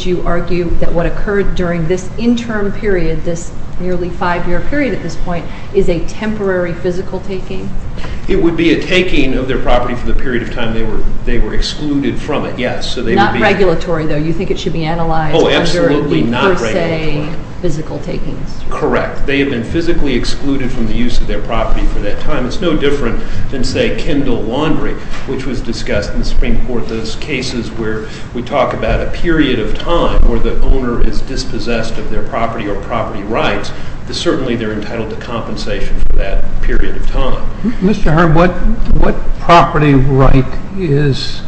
v. United States And then, you know, I'll have to ask you a question. Would you argue that what occurred during this interim period, this nearly five-year period at this point, is a temporary physical taking? It would be a taking of their property for the period of time they were excluded from it, yes. So they would be Not regulatory though. You think it should be analyzed Oh, absolutely not regulatory. During the per se physical takings. Correct. They had been physically excluded from the use of their property for that time. It's no different than, say, Kindle Laundry, which was discussed in the Supreme Court, one of those cases where we talk about a period of time where the owner is dispossessed of their property or property rights, certainly they're entitled to compensation for that period of time. Mr. Herb, what property right is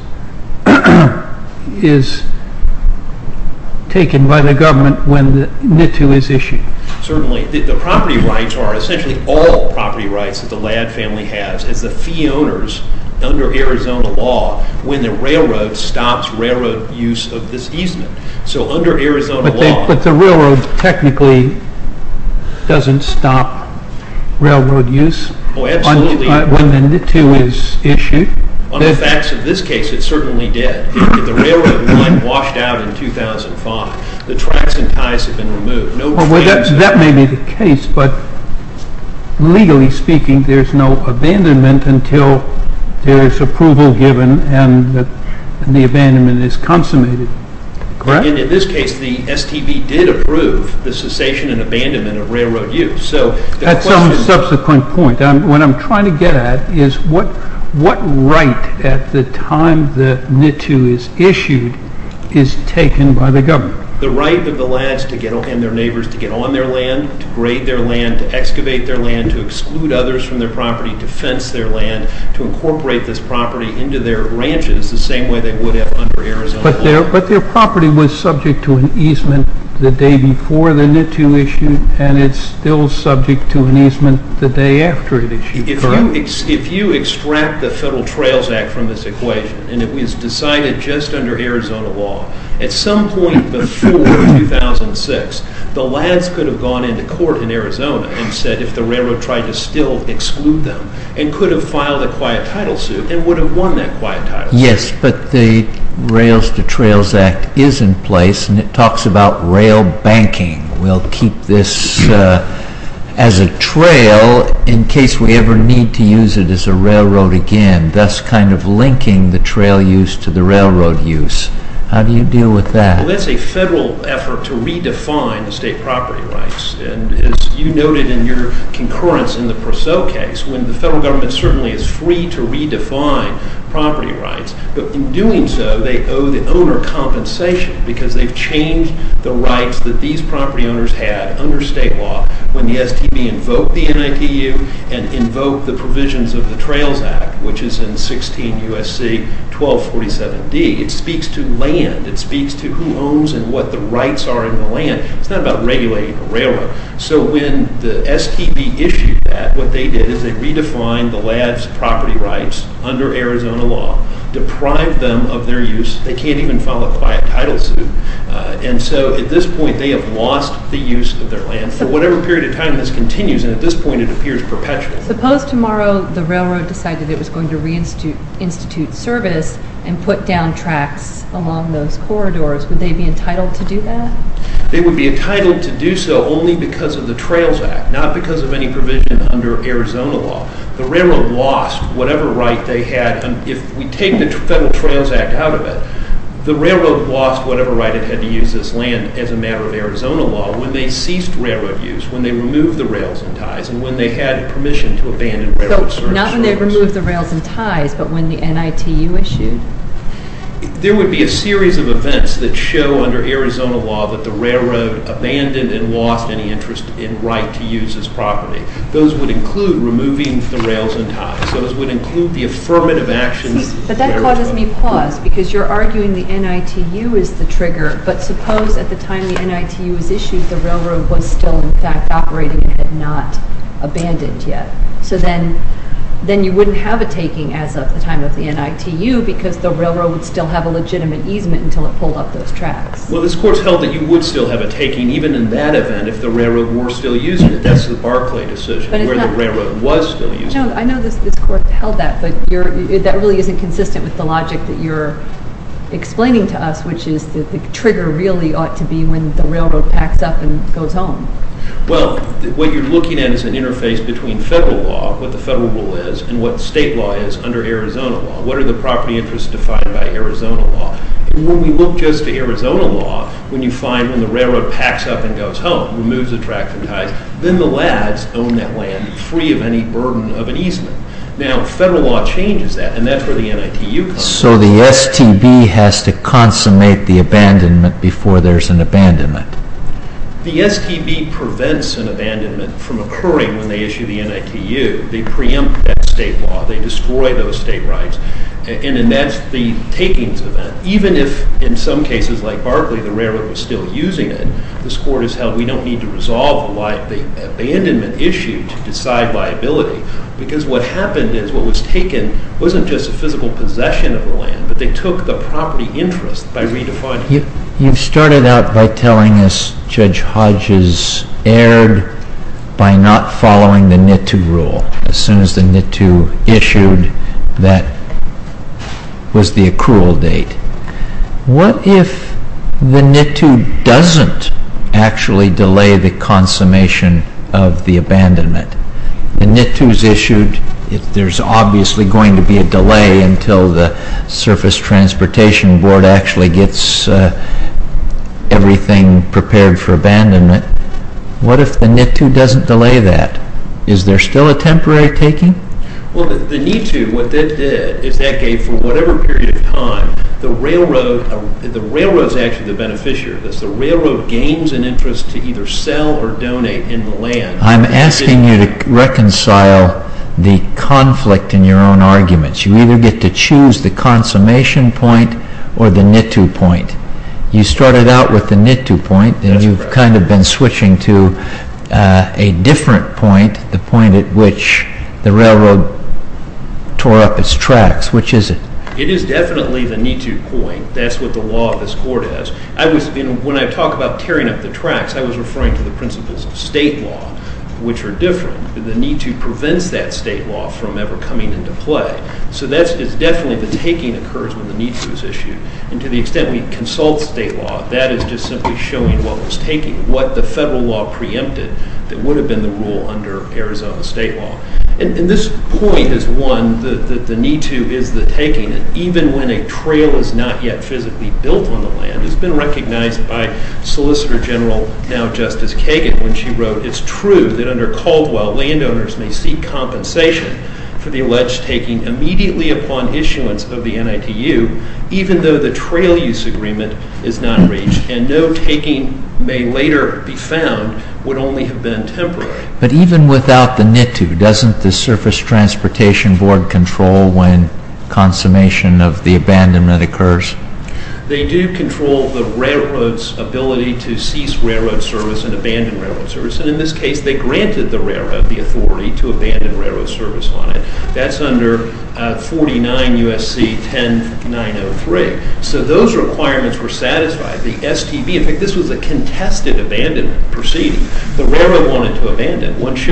taken by the government when the NITU is issued? Certainly. The property rights are essentially all property rights that the LADD family has as the fee under Arizona law, when the railroad stops railroad use of this easement. So under Arizona law But the railroad technically doesn't stop railroad use when the NITU is issued? On the facts of this case, it certainly did. If the railroad line washed out in 2005, the tracks and ties have been removed. That may be the case, but legally speaking, there's no abandonment until there's approval given and the abandonment is consummated. In this case, the STB did approve the cessation and abandonment of railroad use. At some subsequent point, what I'm trying to get at is what right at the time the NITU is issued is taken by the government? The right of the LADDs and their neighbors to get on their land, to grade their land, to excavate their land, to exclude others from their property, to fence their land, to incorporate this property into their ranches the same way they would have under Arizona law. But their property was subject to an easement the day before the NITU issued and it's still subject to an easement the day after it issued, correct? If you extract the Federal Trails Act from this equation and it was decided just under Arizona law, at some point before 2006, the LADDs could have gone into court in Arizona and said if the railroad tried to still exclude them and could have filed a quiet title suit and would have won that quiet title suit. Yes, but the Rails to Trails Act is in place and it talks about rail banking. We'll keep this as a trail in case we ever need to use it as a railroad again, thus kind of linking the trail use to the railroad use. How do you deal with that? Well, that's a Federal effort to redefine the state property rights and as you noted in your concurrence in the Purcell case, when the Federal Government certainly is free to redefine property rights, but in doing so, they owe the owner compensation because they've changed the rights that these property owners had under state law when the STB invoked the 1247D. It speaks to land. It speaks to who owns and what the rights are in the land. It's not about regulating the railroad. So when the STB issued that, what they did is they redefined the LADDs property rights under Arizona law, deprived them of their use. They can't even file a quiet title suit and so at this point, they have lost the use of their land. For whatever period of time this continues and at this point, it appears perpetual. Suppose tomorrow the railroad decided it was going to reinstitute service and put down tracks along those corridors. Would they be entitled to do that? They would be entitled to do so only because of the Trails Act, not because of any provision under Arizona law. The railroad lost whatever right they had and if we take the Federal Trails Act out of it, the railroad lost whatever right it had to use this land as a matter of Arizona law when they ceased railroad use, when they removed the rails and ties and when they had permission to abandon railroad service. So not when they removed the rails and ties, but when the NITU issued? There would be a series of events that show under Arizona law that the railroad abandoned and lost any interest in right to use this property. Those would include removing the rails and ties. Those would include the affirmative actions. But that causes me pause because you're arguing the NITU is the trigger, but suppose at the point yet. So then you wouldn't have a taking as of the time of the NITU because the railroad would still have a legitimate easement until it pulled up those tracks. Well, this Court's held that you would still have a taking even in that event if the railroad were still using it. That's the Barclay decision, where the railroad was still using it. I know this Court held that, but that really isn't consistent with the logic that you're explaining to us, which is that the trigger really ought to be when the railroad packs up and goes home. Well, what you're looking at is an interface between federal law, what the federal rule is, and what state law is under Arizona law. What are the property interests defined by Arizona law? When we look just to Arizona law, when you find when the railroad packs up and goes home, removes the tracks and ties, then the lads own that land free of any burden of an easement. Now federal law changes that, and that's where the NITU comes in. So the STB has to consummate the abandonment before there's an abandonment? The STB prevents an abandonment from occurring when they issue the NITU. They preempt that state law. They destroy those state rights, and that's the takings event. Even if, in some cases like Barclay, the railroad was still using it, this Court has held we don't need to resolve the abandonment issue to decide liability, because what happened is, what was taken wasn't just a physical possession of the land, but they took the property interest by redefining it. You started out by telling us Judge Hodges erred by not following the NITU rule. As soon as the NITU issued, that was the accrual date. What if the NITU doesn't actually delay the consummation of the abandonment? The NITU's issued, there's obviously going to be a delay until the Surface Transportation Board actually gets everything prepared for abandonment. What if the NITU doesn't delay that? Is there still a temporary taking? Well, the NITU, what that did, is that for whatever period of time, the railroad is actually the beneficiary of this. The railroad gains an interest to either sell or donate in the land. I'm asking you to reconcile the conflict in your own arguments. You either get to choose the consummation point or the NITU point. You started out with the NITU point, and you've kind of been switching to a different point, the point at which the railroad tore up its tracks. Which is it? It is definitely the NITU point. That's what the law of this court is. When I talk about tearing up the tracks, I was referring to the principles of state law, which are different. The NITU prevents that state law from ever coming into play. So that is definitely the taking occurs when the NITU is issued. And to the extent we consult state law, that is just simply showing what was taken, what the federal law preempted that would have been the rule under Arizona state law. And this point is one that the NITU is the taking. Even when a trail is not yet physically built on the land, it's been recognized by Solicitor General, now Justice Kagan, when she wrote, it's true that under Caldwell, landowners may seek compensation for the alleged taking immediately upon issuance of the NITU, even though the trail use agreement is not reached. And no taking may later be found would only have been temporary. But even without the NITU, doesn't the Surface Transportation Board control when consummation of the abandonment occurs? They do control the railroad's ability to cease railroad service and abandon railroad service. And in this case, they granted the railroad the authority to abandon railroad service on it. That's under 49 U.S.C. 10903. So those requirements were satisfied. The STB, in fact, this was a contested abandonment proceeding. The railroad wanted to abandon.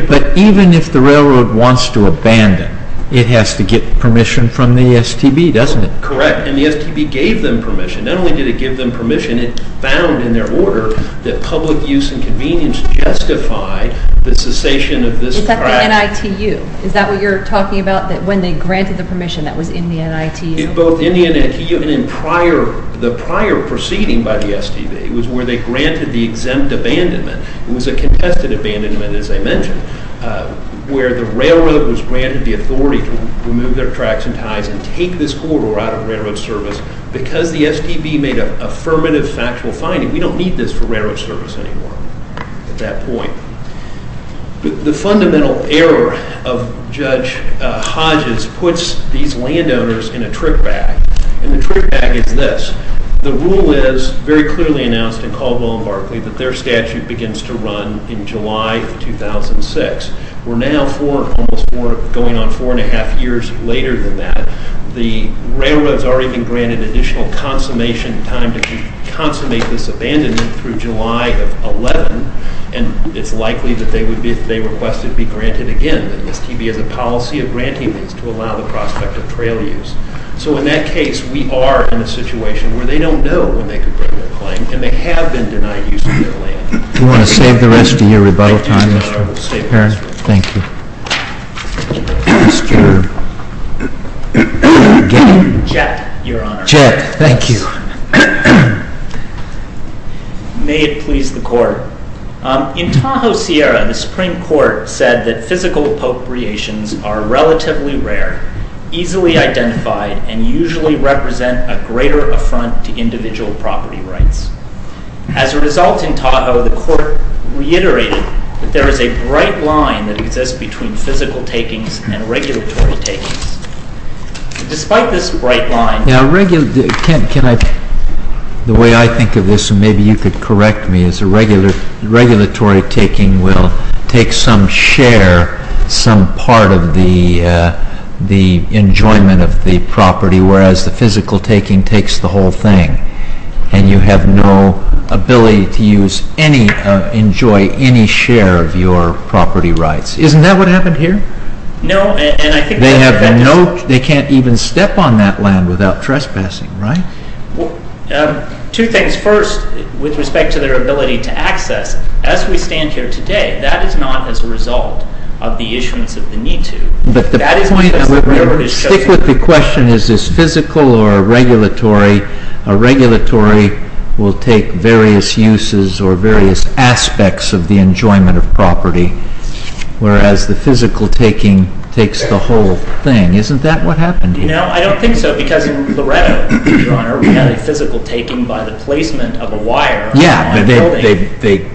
But even if the railroad wants to abandon, it has to get permission from the STB, doesn't it? Correct. And the STB gave them permission. Not only did it give them permission, it found in their order that public use and convenience justified the cessation of this track. It's at the NITU. Is that what you're talking about? That when they granted the permission, that was in the NITU? Both in the NITU and in prior, the prior proceeding by the STB. It was where they granted the exempt abandonment. It was a contested abandonment, as I mentioned, where the railroad was granted the authority to remove their tracks and ties and take this corridor out of railroad service because the STB made an affirmative factual finding. We don't need this for railroad service anymore at that point. The fundamental error of Judge Hodges puts these landowners in a trick bag. And the trick bag is this. The rule is very clearly announced in Caldwell and Barclay that their statute begins to run in July 2006. We're now almost going on four and a half years later than that. The railroad has already been granted additional consummation time to consummate this abandonment through July of 2011. And it's likely that they would be, if they requested, be granted again. And the STB has a policy of granting these to allow the prospect of trail use. So in that case, we are in a situation where they don't know when they could bring their claim. And they have been denied use of their land. Do you want to save the rest of your rebuttal time, Mr. Perrin? Thank you. I'm scared. Jack, Your Honor. Jack, thank you. May it please the Court. In Tahoe Sierra, the Supreme Court said that physical appropriations are relatively rare, easily identified, and usually represent a greater affront to individual property rights. As a result in Tahoe, the Court reiterated that there is a bright line that exists between physical takings and regulatory takings. Despite this bright line... The way I think of this, and maybe you could correct me, is a regulatory taking will take some share, some part of the enjoyment of the property, whereas the physical taking takes the whole thing. And you have no ability to enjoy any share of your property rights. Isn't that what happened here? No. They can't even step on that land without trespassing, right? Two things. First, with respect to their ability to access, as we stand here today, that is not as a result of the issuance of the need to. Stick with the question, is this physical or regulatory? A regulatory will take various uses or various aspects of the enjoyment of property, whereas the physical taking takes the whole thing. Isn't that what happened here? No, I don't think so, because in Loretto, Your Honor, Yeah, but they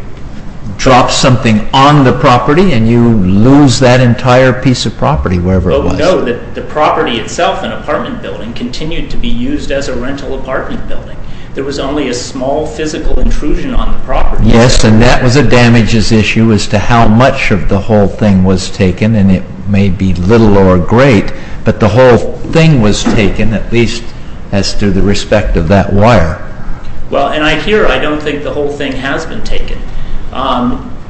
dropped something on the property and you lose that entire piece of property, wherever it was. No, the property itself, an apartment building, continued to be used as a rental apartment building. There was only a small physical intrusion on the property. Yes, and that was a damages issue as to how much of the whole thing was taken, and it may be little or great, but the whole thing was taken, at least as to the respect of that wire. Well, and I hear, I don't think the whole thing has been taken.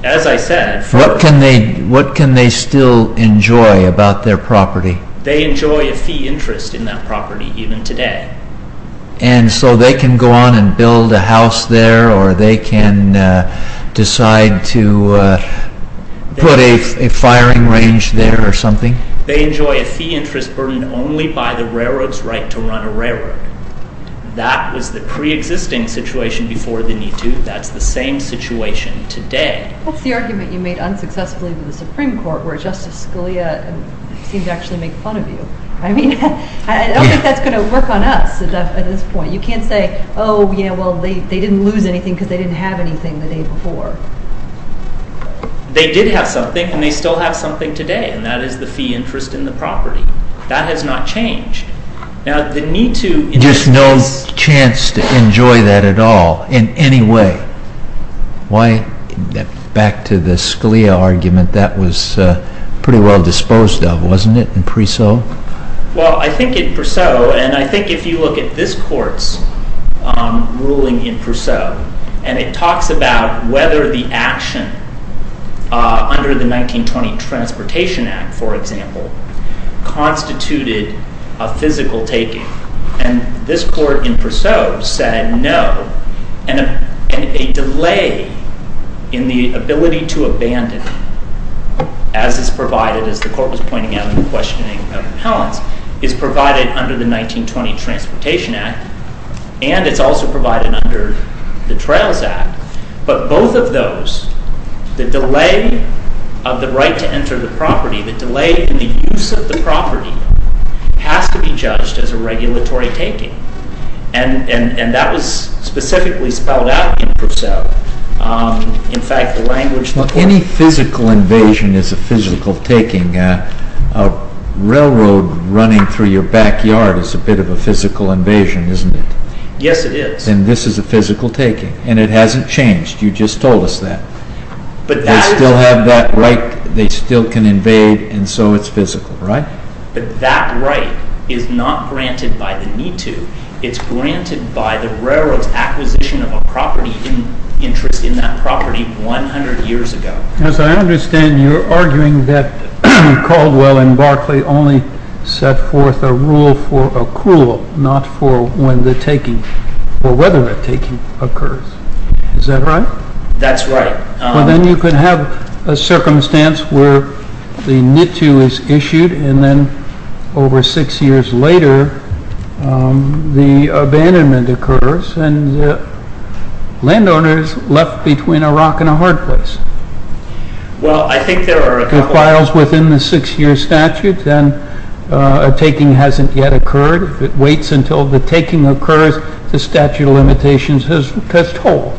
As I said, What can they still enjoy about their property? They enjoy a fee interest in that property, even today. And so they can go on and build a house there, or they can decide to put a firing range there or something? They enjoy a fee interest burdened only by the railroad's right to run a railroad. That was the pre-existing situation before the Me Too. That's the same situation today. What's the argument you made unsuccessfully with the Supreme Court where Justice Scalia seemed to actually make fun of you? I mean, I don't think that's going to work on us at this point. You can't say, oh, yeah, well, they didn't lose anything because they didn't have anything the day before. They did have something, and they still have something today, and that is the fee interest in the property. That has not changed. There's no chance to enjoy that at all in any way. Why? Back to the Scalia argument, that was pretty well disposed of, wasn't it, in Perseu? Well, I think in Perseu, and I think if you look at this court's ruling in Perseu, and it talks about whether the action under the 1920 Transportation Act, for example, constituted a physical taking, and this court in Perseu said no, and a delay in the ability to abandon, as is provided, as the court was pointing out in the questioning of Appellants, is provided under the 1920 Transportation Act, and it's also provided under the Trails Act. But both of those, the delay of the right to enter the property, the delay in the use of the property, has to be judged as a regulatory taking, and that was specifically spelled out in Perseu. In fact, the language the court— Well, any physical invasion is a physical taking. A railroad running through your backyard is a bit of a physical invasion, isn't it? Yes, it is. Then this is a physical taking, and it hasn't changed. You just told us that. They still have that right. They still can invade, and so it's physical, right? But that right is not granted by the need to. It's granted by the railroad's acquisition of a property interest in that property 100 years ago. As I understand, you're arguing that Caldwell and Barclay only set forth a rule for accrual, not for when the taking, or whether the taking, occurs. Is that right? That's right. Well, then you could have a circumstance where the NITU is issued, and then over six years later, the abandonment occurs, and the landowner is left between a rock and a hard place. Well, I think there are a couple— It files within the six-year statute, and a taking hasn't yet occurred. If it waits until the taking occurs, the statute of limitations has told.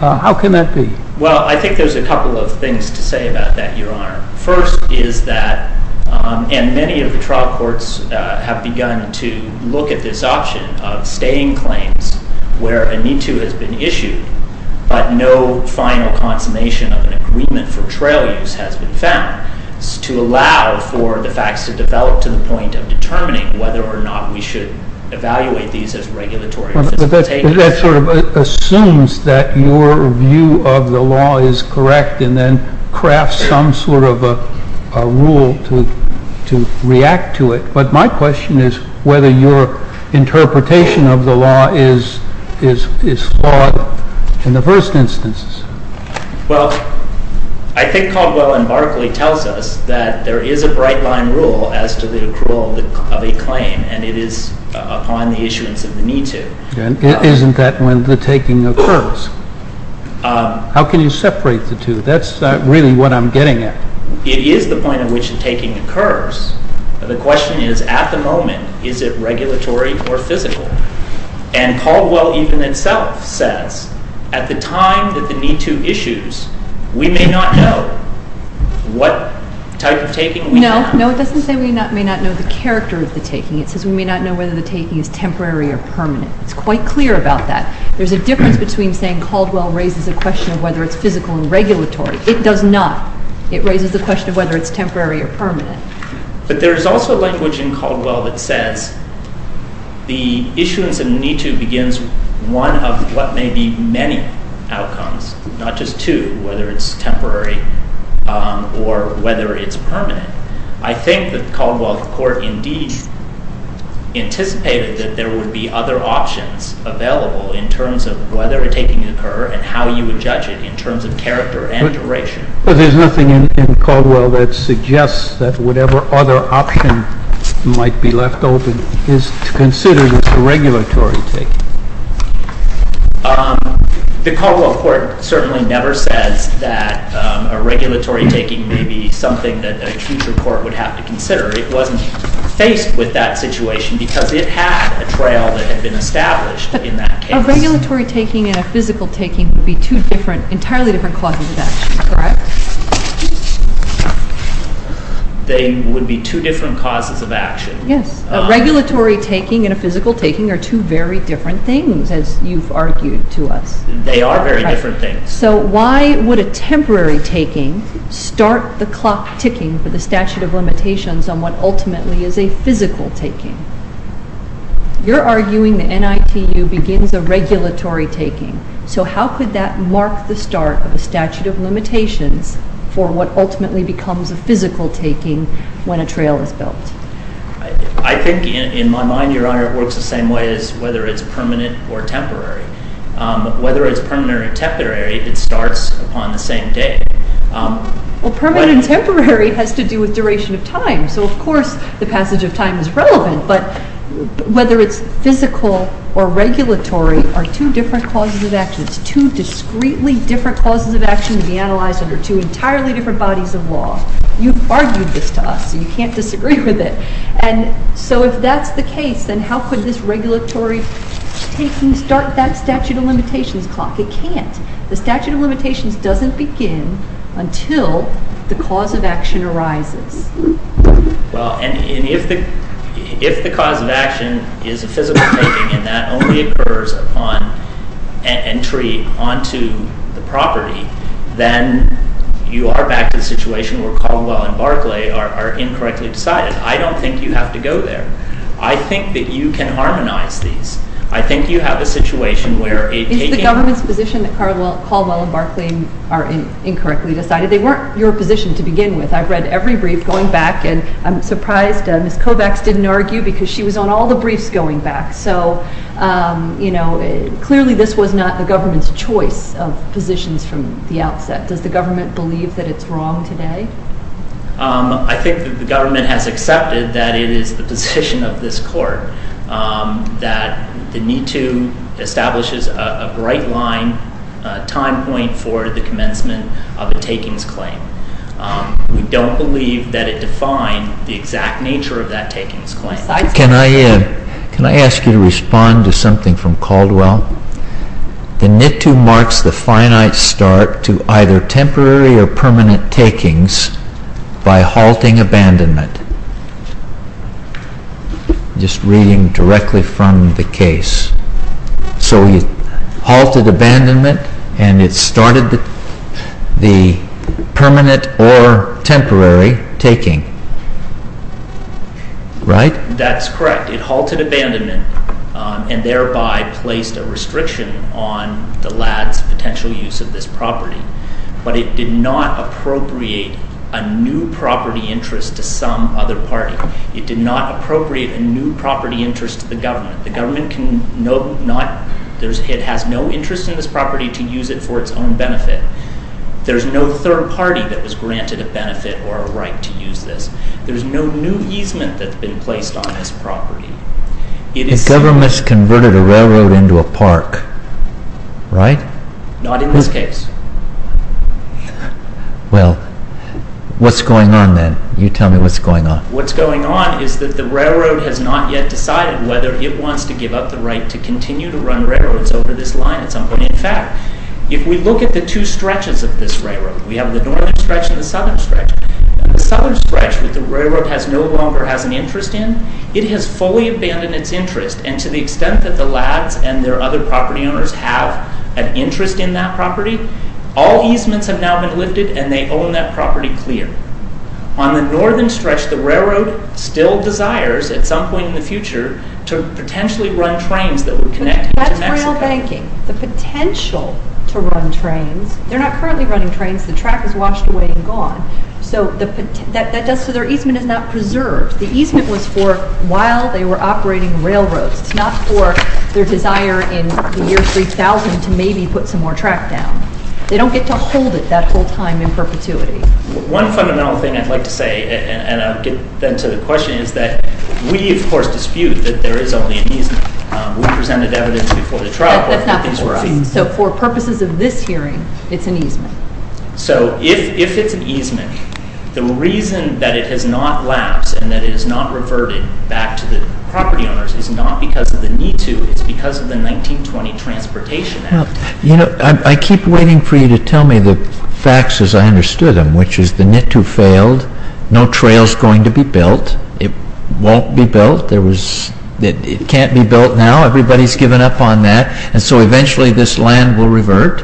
How can that be? Well, I think there's a couple of things to say about that, Your Honor. First is that, and many of the trial courts have begun to look at this option of staying claims where a NITU has been issued, but no final consummation of an agreement for trail use has been found, to allow for the facts to develop to the point of determining whether or not we should evaluate these as regulatory facilitations. But that sort of assumes that your view of the law is correct and then crafts some sort of a rule to react to it. But my question is whether your interpretation of the law is flawed in the first instance. Well, I think Cogwell and Barclay tells us that there is a bright-line rule as to the accrual of a claim, and it is upon the issuance of the NITU. Isn't that when the taking occurs? How can you separate the two? That's really what I'm getting at. It is the point at which the taking occurs. The question is, at the moment, is it regulatory or physical? And Cogwell even himself says, at the time that the NITU issues, we may not know what type of taking we have. No, it doesn't say we may not know the character of the taking. It says we may not know whether the taking is temporary or permanent. It's quite clear about that. There's a difference between saying Cogwell raises a question of whether it's physical and regulatory. It does not. It raises the question of whether it's temporary or permanent. But there is also language in Cogwell that says the issuance of a NITU begins one of what may be many outcomes, not just two, whether it's temporary or whether it's permanent. I think that Cogwell Court indeed anticipated that there would be other options available in terms of whether a taking would occur and how you would judge it in terms of character and duration. But there's nothing in Cogwell that suggests that whatever other option might be left open is considered a regulatory taking. The Cogwell Court certainly never says that a regulatory taking may be something that a future court would have to consider. It wasn't faced with that situation because it had a trail that had been established in that case. A regulatory taking and a physical taking would be two entirely different causes of action, correct? They would be two different causes of action. Yes. A regulatory taking and a physical taking are two very different things, as you've argued to us. They are very different things. So why would a temporary taking start the clock ticking for the statute of limitations on what ultimately is a physical taking? You're arguing the NITU begins a regulatory taking. So how could that mark the start of a statute of limitations for what ultimately becomes a physical taking when a trail is built? I think in my mind, Your Honor, it works the same way as whether it's permanent or temporary. Whether it's permanent or temporary, it starts upon the same day. Well, permanent and temporary has to do with duration of time. So, of course, the passage of time is relevant. But whether it's physical or regulatory are two different causes of action. It's two discreetly different causes of action to be analyzed under two entirely different bodies of law. You've argued this to us, so you can't disagree with it. And so if that's the case, then how could this regulatory taking start that statute of limitations clock? It can't. The statute of limitations doesn't begin until the cause of action arises. Well, and if the cause of action is a physical taking and that only occurs upon entry onto the property, then you are back to the situation where Caldwell and Barclay are incorrectly decided. I don't think you have to go there. I think that you can harmonize these. I think you have a situation where a taking... It's the government's position that Caldwell and Barclay are incorrectly decided. They weren't your position to begin with. I've read every brief going back, and I'm surprised Ms. Kovacs didn't argue because she was on all the briefs going back. So, you know, clearly this was not the government's choice of positions from the outset. Does the government believe that it's wrong today? I think that the government has accepted that it is the position of this court that the Me Too establishes a bright line, a time point for the commencement of a takings claim. We don't believe that it defined the exact nature of that takings claim. Can I ask you to respond to something from Caldwell? The Me Too marks the finite start to either temporary or permanent takings by halting abandonment. Just reading directly from the case. So you halted abandonment, and it started the permanent or temporary taking. Right? That's correct. It halted abandonment and thereby placed a restriction on the lad's potential use of this property. But it did not appropriate a new property interest to some other party. It did not appropriate a new property interest to the government. The government has no interest in this property to use it for its own benefit. There's no third party that was granted a benefit or a right to use this. There's no new easement that's been placed on this property. The government's converted a railroad into a park, right? Not in this case. Well, what's going on then? You tell me what's going on. What's going on is that the railroad has not yet decided whether it wants to give up the right to continue to run railroads over this line at some point. In fact, if we look at the two stretches of this railroad, we have the northern stretch and the southern stretch. The southern stretch that the railroad no longer has an interest in, it has fully abandoned its interest. And to the extent that the lads and their other property owners have an interest in that property, all easements have now been lifted, and they own that property clear. On the northern stretch, the railroad still desires, at some point in the future, to potentially run trains that would connect to Mexico. Without banking, the potential to run trains, they're not currently running trains. The track is washed away and gone. So their easement is not preserved. The easement was for while they were operating railroads. It's not for their desire in the year 3000 to maybe put some more track down. They don't get to hold it that whole time in perpetuity. One fundamental thing I'd like to say, and I'll get then to the question, is that we, of course, dispute that there is only an easement. We presented evidence before the trial court that these were easements. So for purposes of this hearing, it's an easement. So if it's an easement, the reason that it has not lapsed and that it has not reverted back to the property owners is not because of the NITU. It's because of the 1920 Transportation Act. You know, I keep waiting for you to tell me the facts as I understood them, which is the NITU failed. No trail's going to be built. It won't be built. It can't be built now. Everybody's given up on that. And so eventually this land will revert,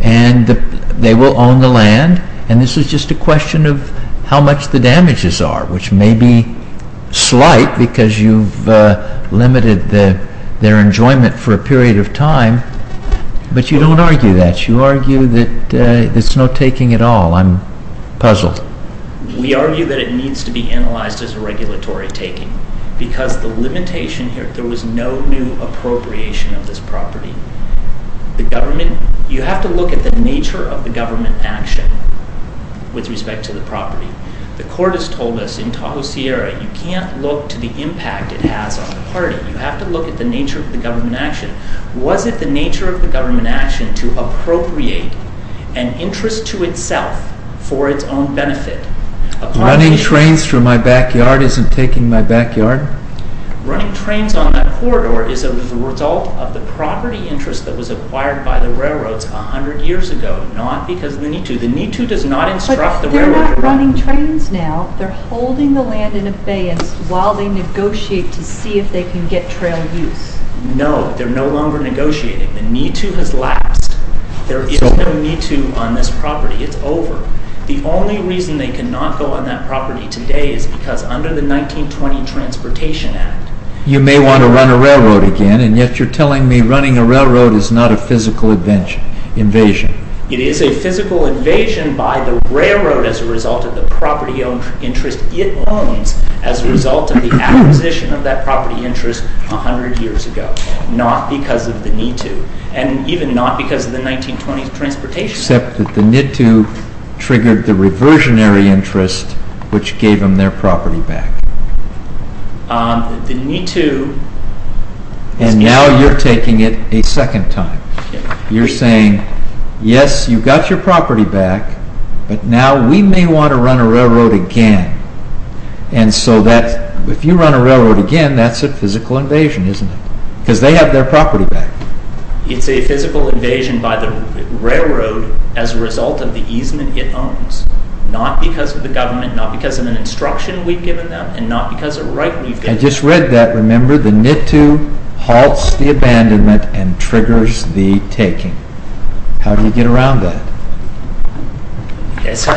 and they will own the land. And this is just a question of how much the damages are, which may be slight because you've limited their enjoyment for a period of time. But you don't argue that. I'm puzzled. We argue that it needs to be analyzed as a regulatory taking because the limitation here, there was no new appropriation of this property. The government, you have to look at the nature of the government action with respect to the property. The court has told us in Tahoe Sierra, you can't look to the impact it has on the party. You have to look at the nature of the government action. Was it the nature of the government action to appropriate an interest to itself for its own benefit? Running trains through my backyard isn't taking my backyard. Running trains on that corridor is a result of the property interest that was acquired by the railroads a hundred years ago, not because of the NITU. The NITU does not instruct the railroad. But they're not running trains now. They're holding the land in abeyance while they negotiate to see if they can get trail use. No, they're no longer negotiating. The NITU has lapsed. There is no NITU on this property. It's over. The only reason they cannot go on that property today is because under the 1920 Transportation Act. You may want to run a railroad again, and yet you're telling me running a railroad is not a physical invasion. It is a physical invasion by the railroad as a result of the property interest it owns as a result of the acquisition of that property interest a hundred years ago, not because of the NITU, and even not because of the 1920 Transportation Act. Except that the NITU triggered the reversionary interest which gave them their property back. And now you're taking it a second time. You're saying, yes, you got your property back, but now we may want to run a railroad again. And so if you run a railroad again, that's a physical invasion, isn't it? Because they have their property back. It's a physical invasion by the railroad as a result of the easement it owns, not because of the government, not because of an instruction we've given them, and not because of right we've given them. I just read that, remember, the NITU halts the abandonment and triggers the taking. How do you get around that? As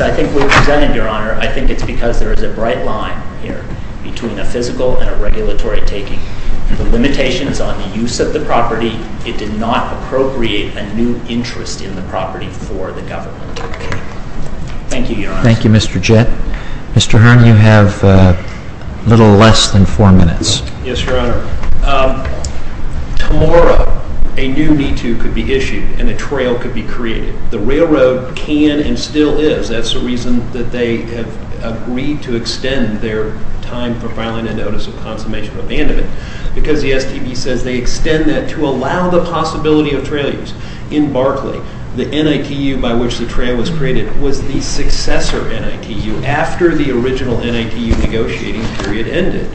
I think we've presented, Your Honor, I think it's because there is a bright line here between a physical and a regulatory taking. The limitations on the use of the property, it did not appropriate a new interest in the property for the government. Thank you, Your Honor. Thank you, Mr. Jett. Mr. Hearn, you have a little less than four minutes. Yes, Your Honor. Tomorrow, a new NITU could be issued and a trail could be created. The railroad can and still is. That's the reason that they have agreed to extend their time for filing a notice of consummation of abandonment. Because the STB says they extend that to allow the possibility of trailers. In Barclay, the NITU by which the trail was created was the successor NITU after the original NITU negotiating period ended.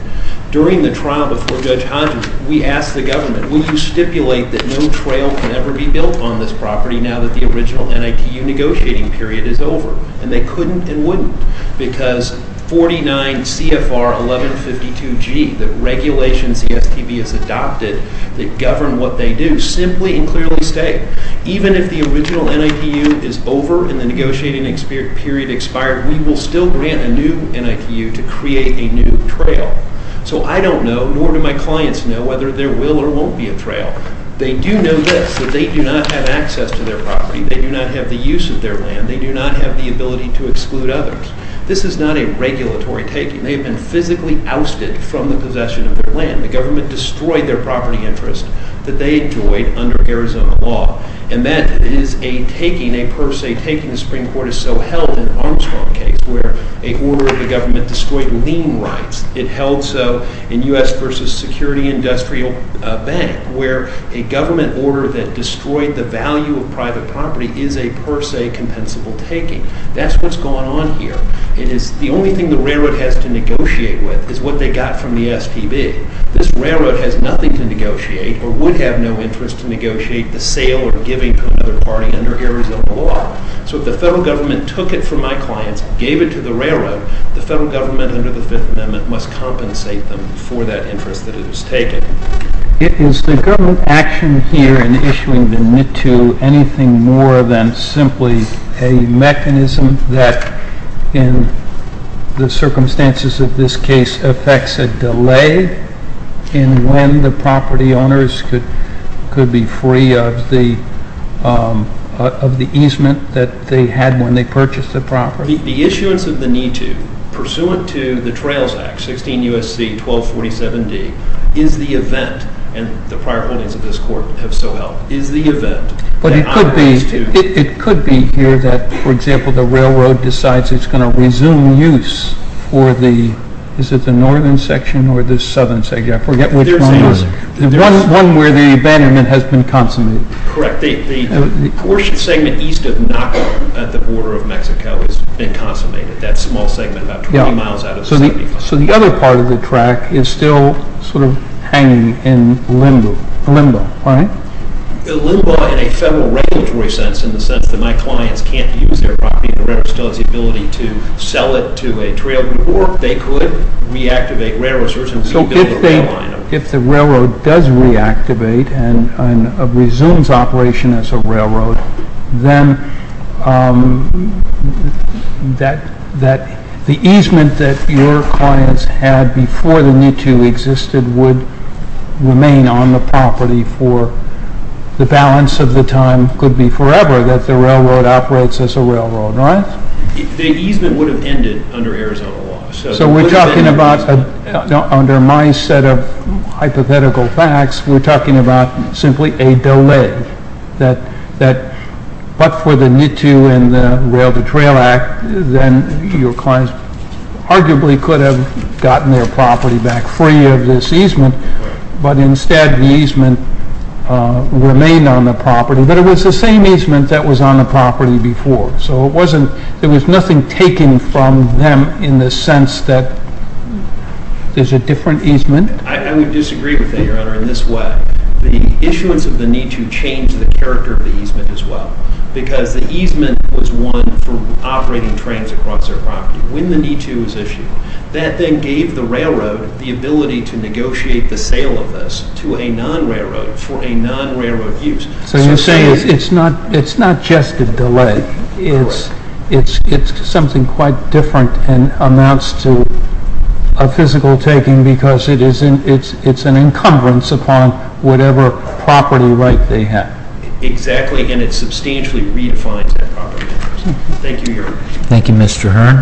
During the trial before Judge Hodges, we asked the government, will you stipulate that no trail can ever be built on this property now that the original NITU negotiating period is over? And they couldn't and wouldn't because 49 CFR 1152G, the regulations the STB has adopted that govern what they do, simply and clearly state, even if the original NITU is over and the negotiating period expired, we will still grant a new NITU to create a new trail. So I don't know, nor do my clients know, whether there will or won't be a trail. They do know this, that they do not have access to their property. They do not have the use of their land. They do not have the ability to exclude others. This is not a regulatory taking. They have been physically ousted from the possession of their land. The government destroyed their property interest that they enjoyed under Arizona law. And that is a taking, a per se taking. The Supreme Court has so held in the Armstrong case where a order of the government destroyed lien rights. It held so in U.S. v. Security Industrial Bank where a government order that destroyed the value of private property is a per se compensable taking. That's what's going on here. It is the only thing the railroad has to negotiate with is what they got from the STB. This railroad has nothing to negotiate or would have no interest to negotiate the sale or giving to another party under Arizona law. So if the federal government took it from my clients, gave it to the railroad, the federal government under the Fifth Amendment must compensate them for that interest that it has taken. Is the government action here in issuing the NITU anything more than simply a mechanism that in the circumstances of this case affects a delay in when the property owners could be free of the easement that they had when they purchased the property? The issuance of the NITU, pursuant to the Trails Act, 16 U.S.C. 1247D, is the event, and the prior holdings of this court have so held, is the event. But it could be here that, for example, the railroad decides it's going to resume use for the northern section or the southern section? I forget which one. The one where the abandonment has been consummated. Correct. The portion segment east of Naco at the border of Mexico has been consummated, that small segment about 20 miles out of 75. So the other part of the track is still sort of hanging in limbo, right? Limbo in a federal regulatory sense, in the sense that my clients can't use their property, the railroad still has the ability to sell it to a trailer, or they could reactivate railroads. So if the railroad does reactivate and resumes operation as a railroad, then the easement that your clients had before the NITU existed would remain on the property for, the balance of the time could be forever that the railroad operates as a railroad, right? The easement would have ended under Arizona law. So we're talking about, under my set of hypothetical facts, we're talking about simply a delay. But for the NITU and the Rail-to-Trail Act, then your clients arguably could have gotten their property back free of this easement, but instead the easement remained on the property. But it was the same easement that was on the property before. So it wasn't, there was nothing taken from them in the sense that there's a different easement. I would disagree with that, Your Honor, in this way. The issuance of the NITU changed the character of the easement as well, because the easement was one for operating trains across their property. When the NITU was issued, that then gave the railroad the ability to negotiate the sale of this to a non-railroad for a non-railroad use. So you're saying it's not just a delay. It's something quite different and amounts to a physical taking because it's an encumbrance upon whatever property right they have. Exactly, and it substantially redefines that property. Thank you, Your Honor. Thank you, Mr. Hearn.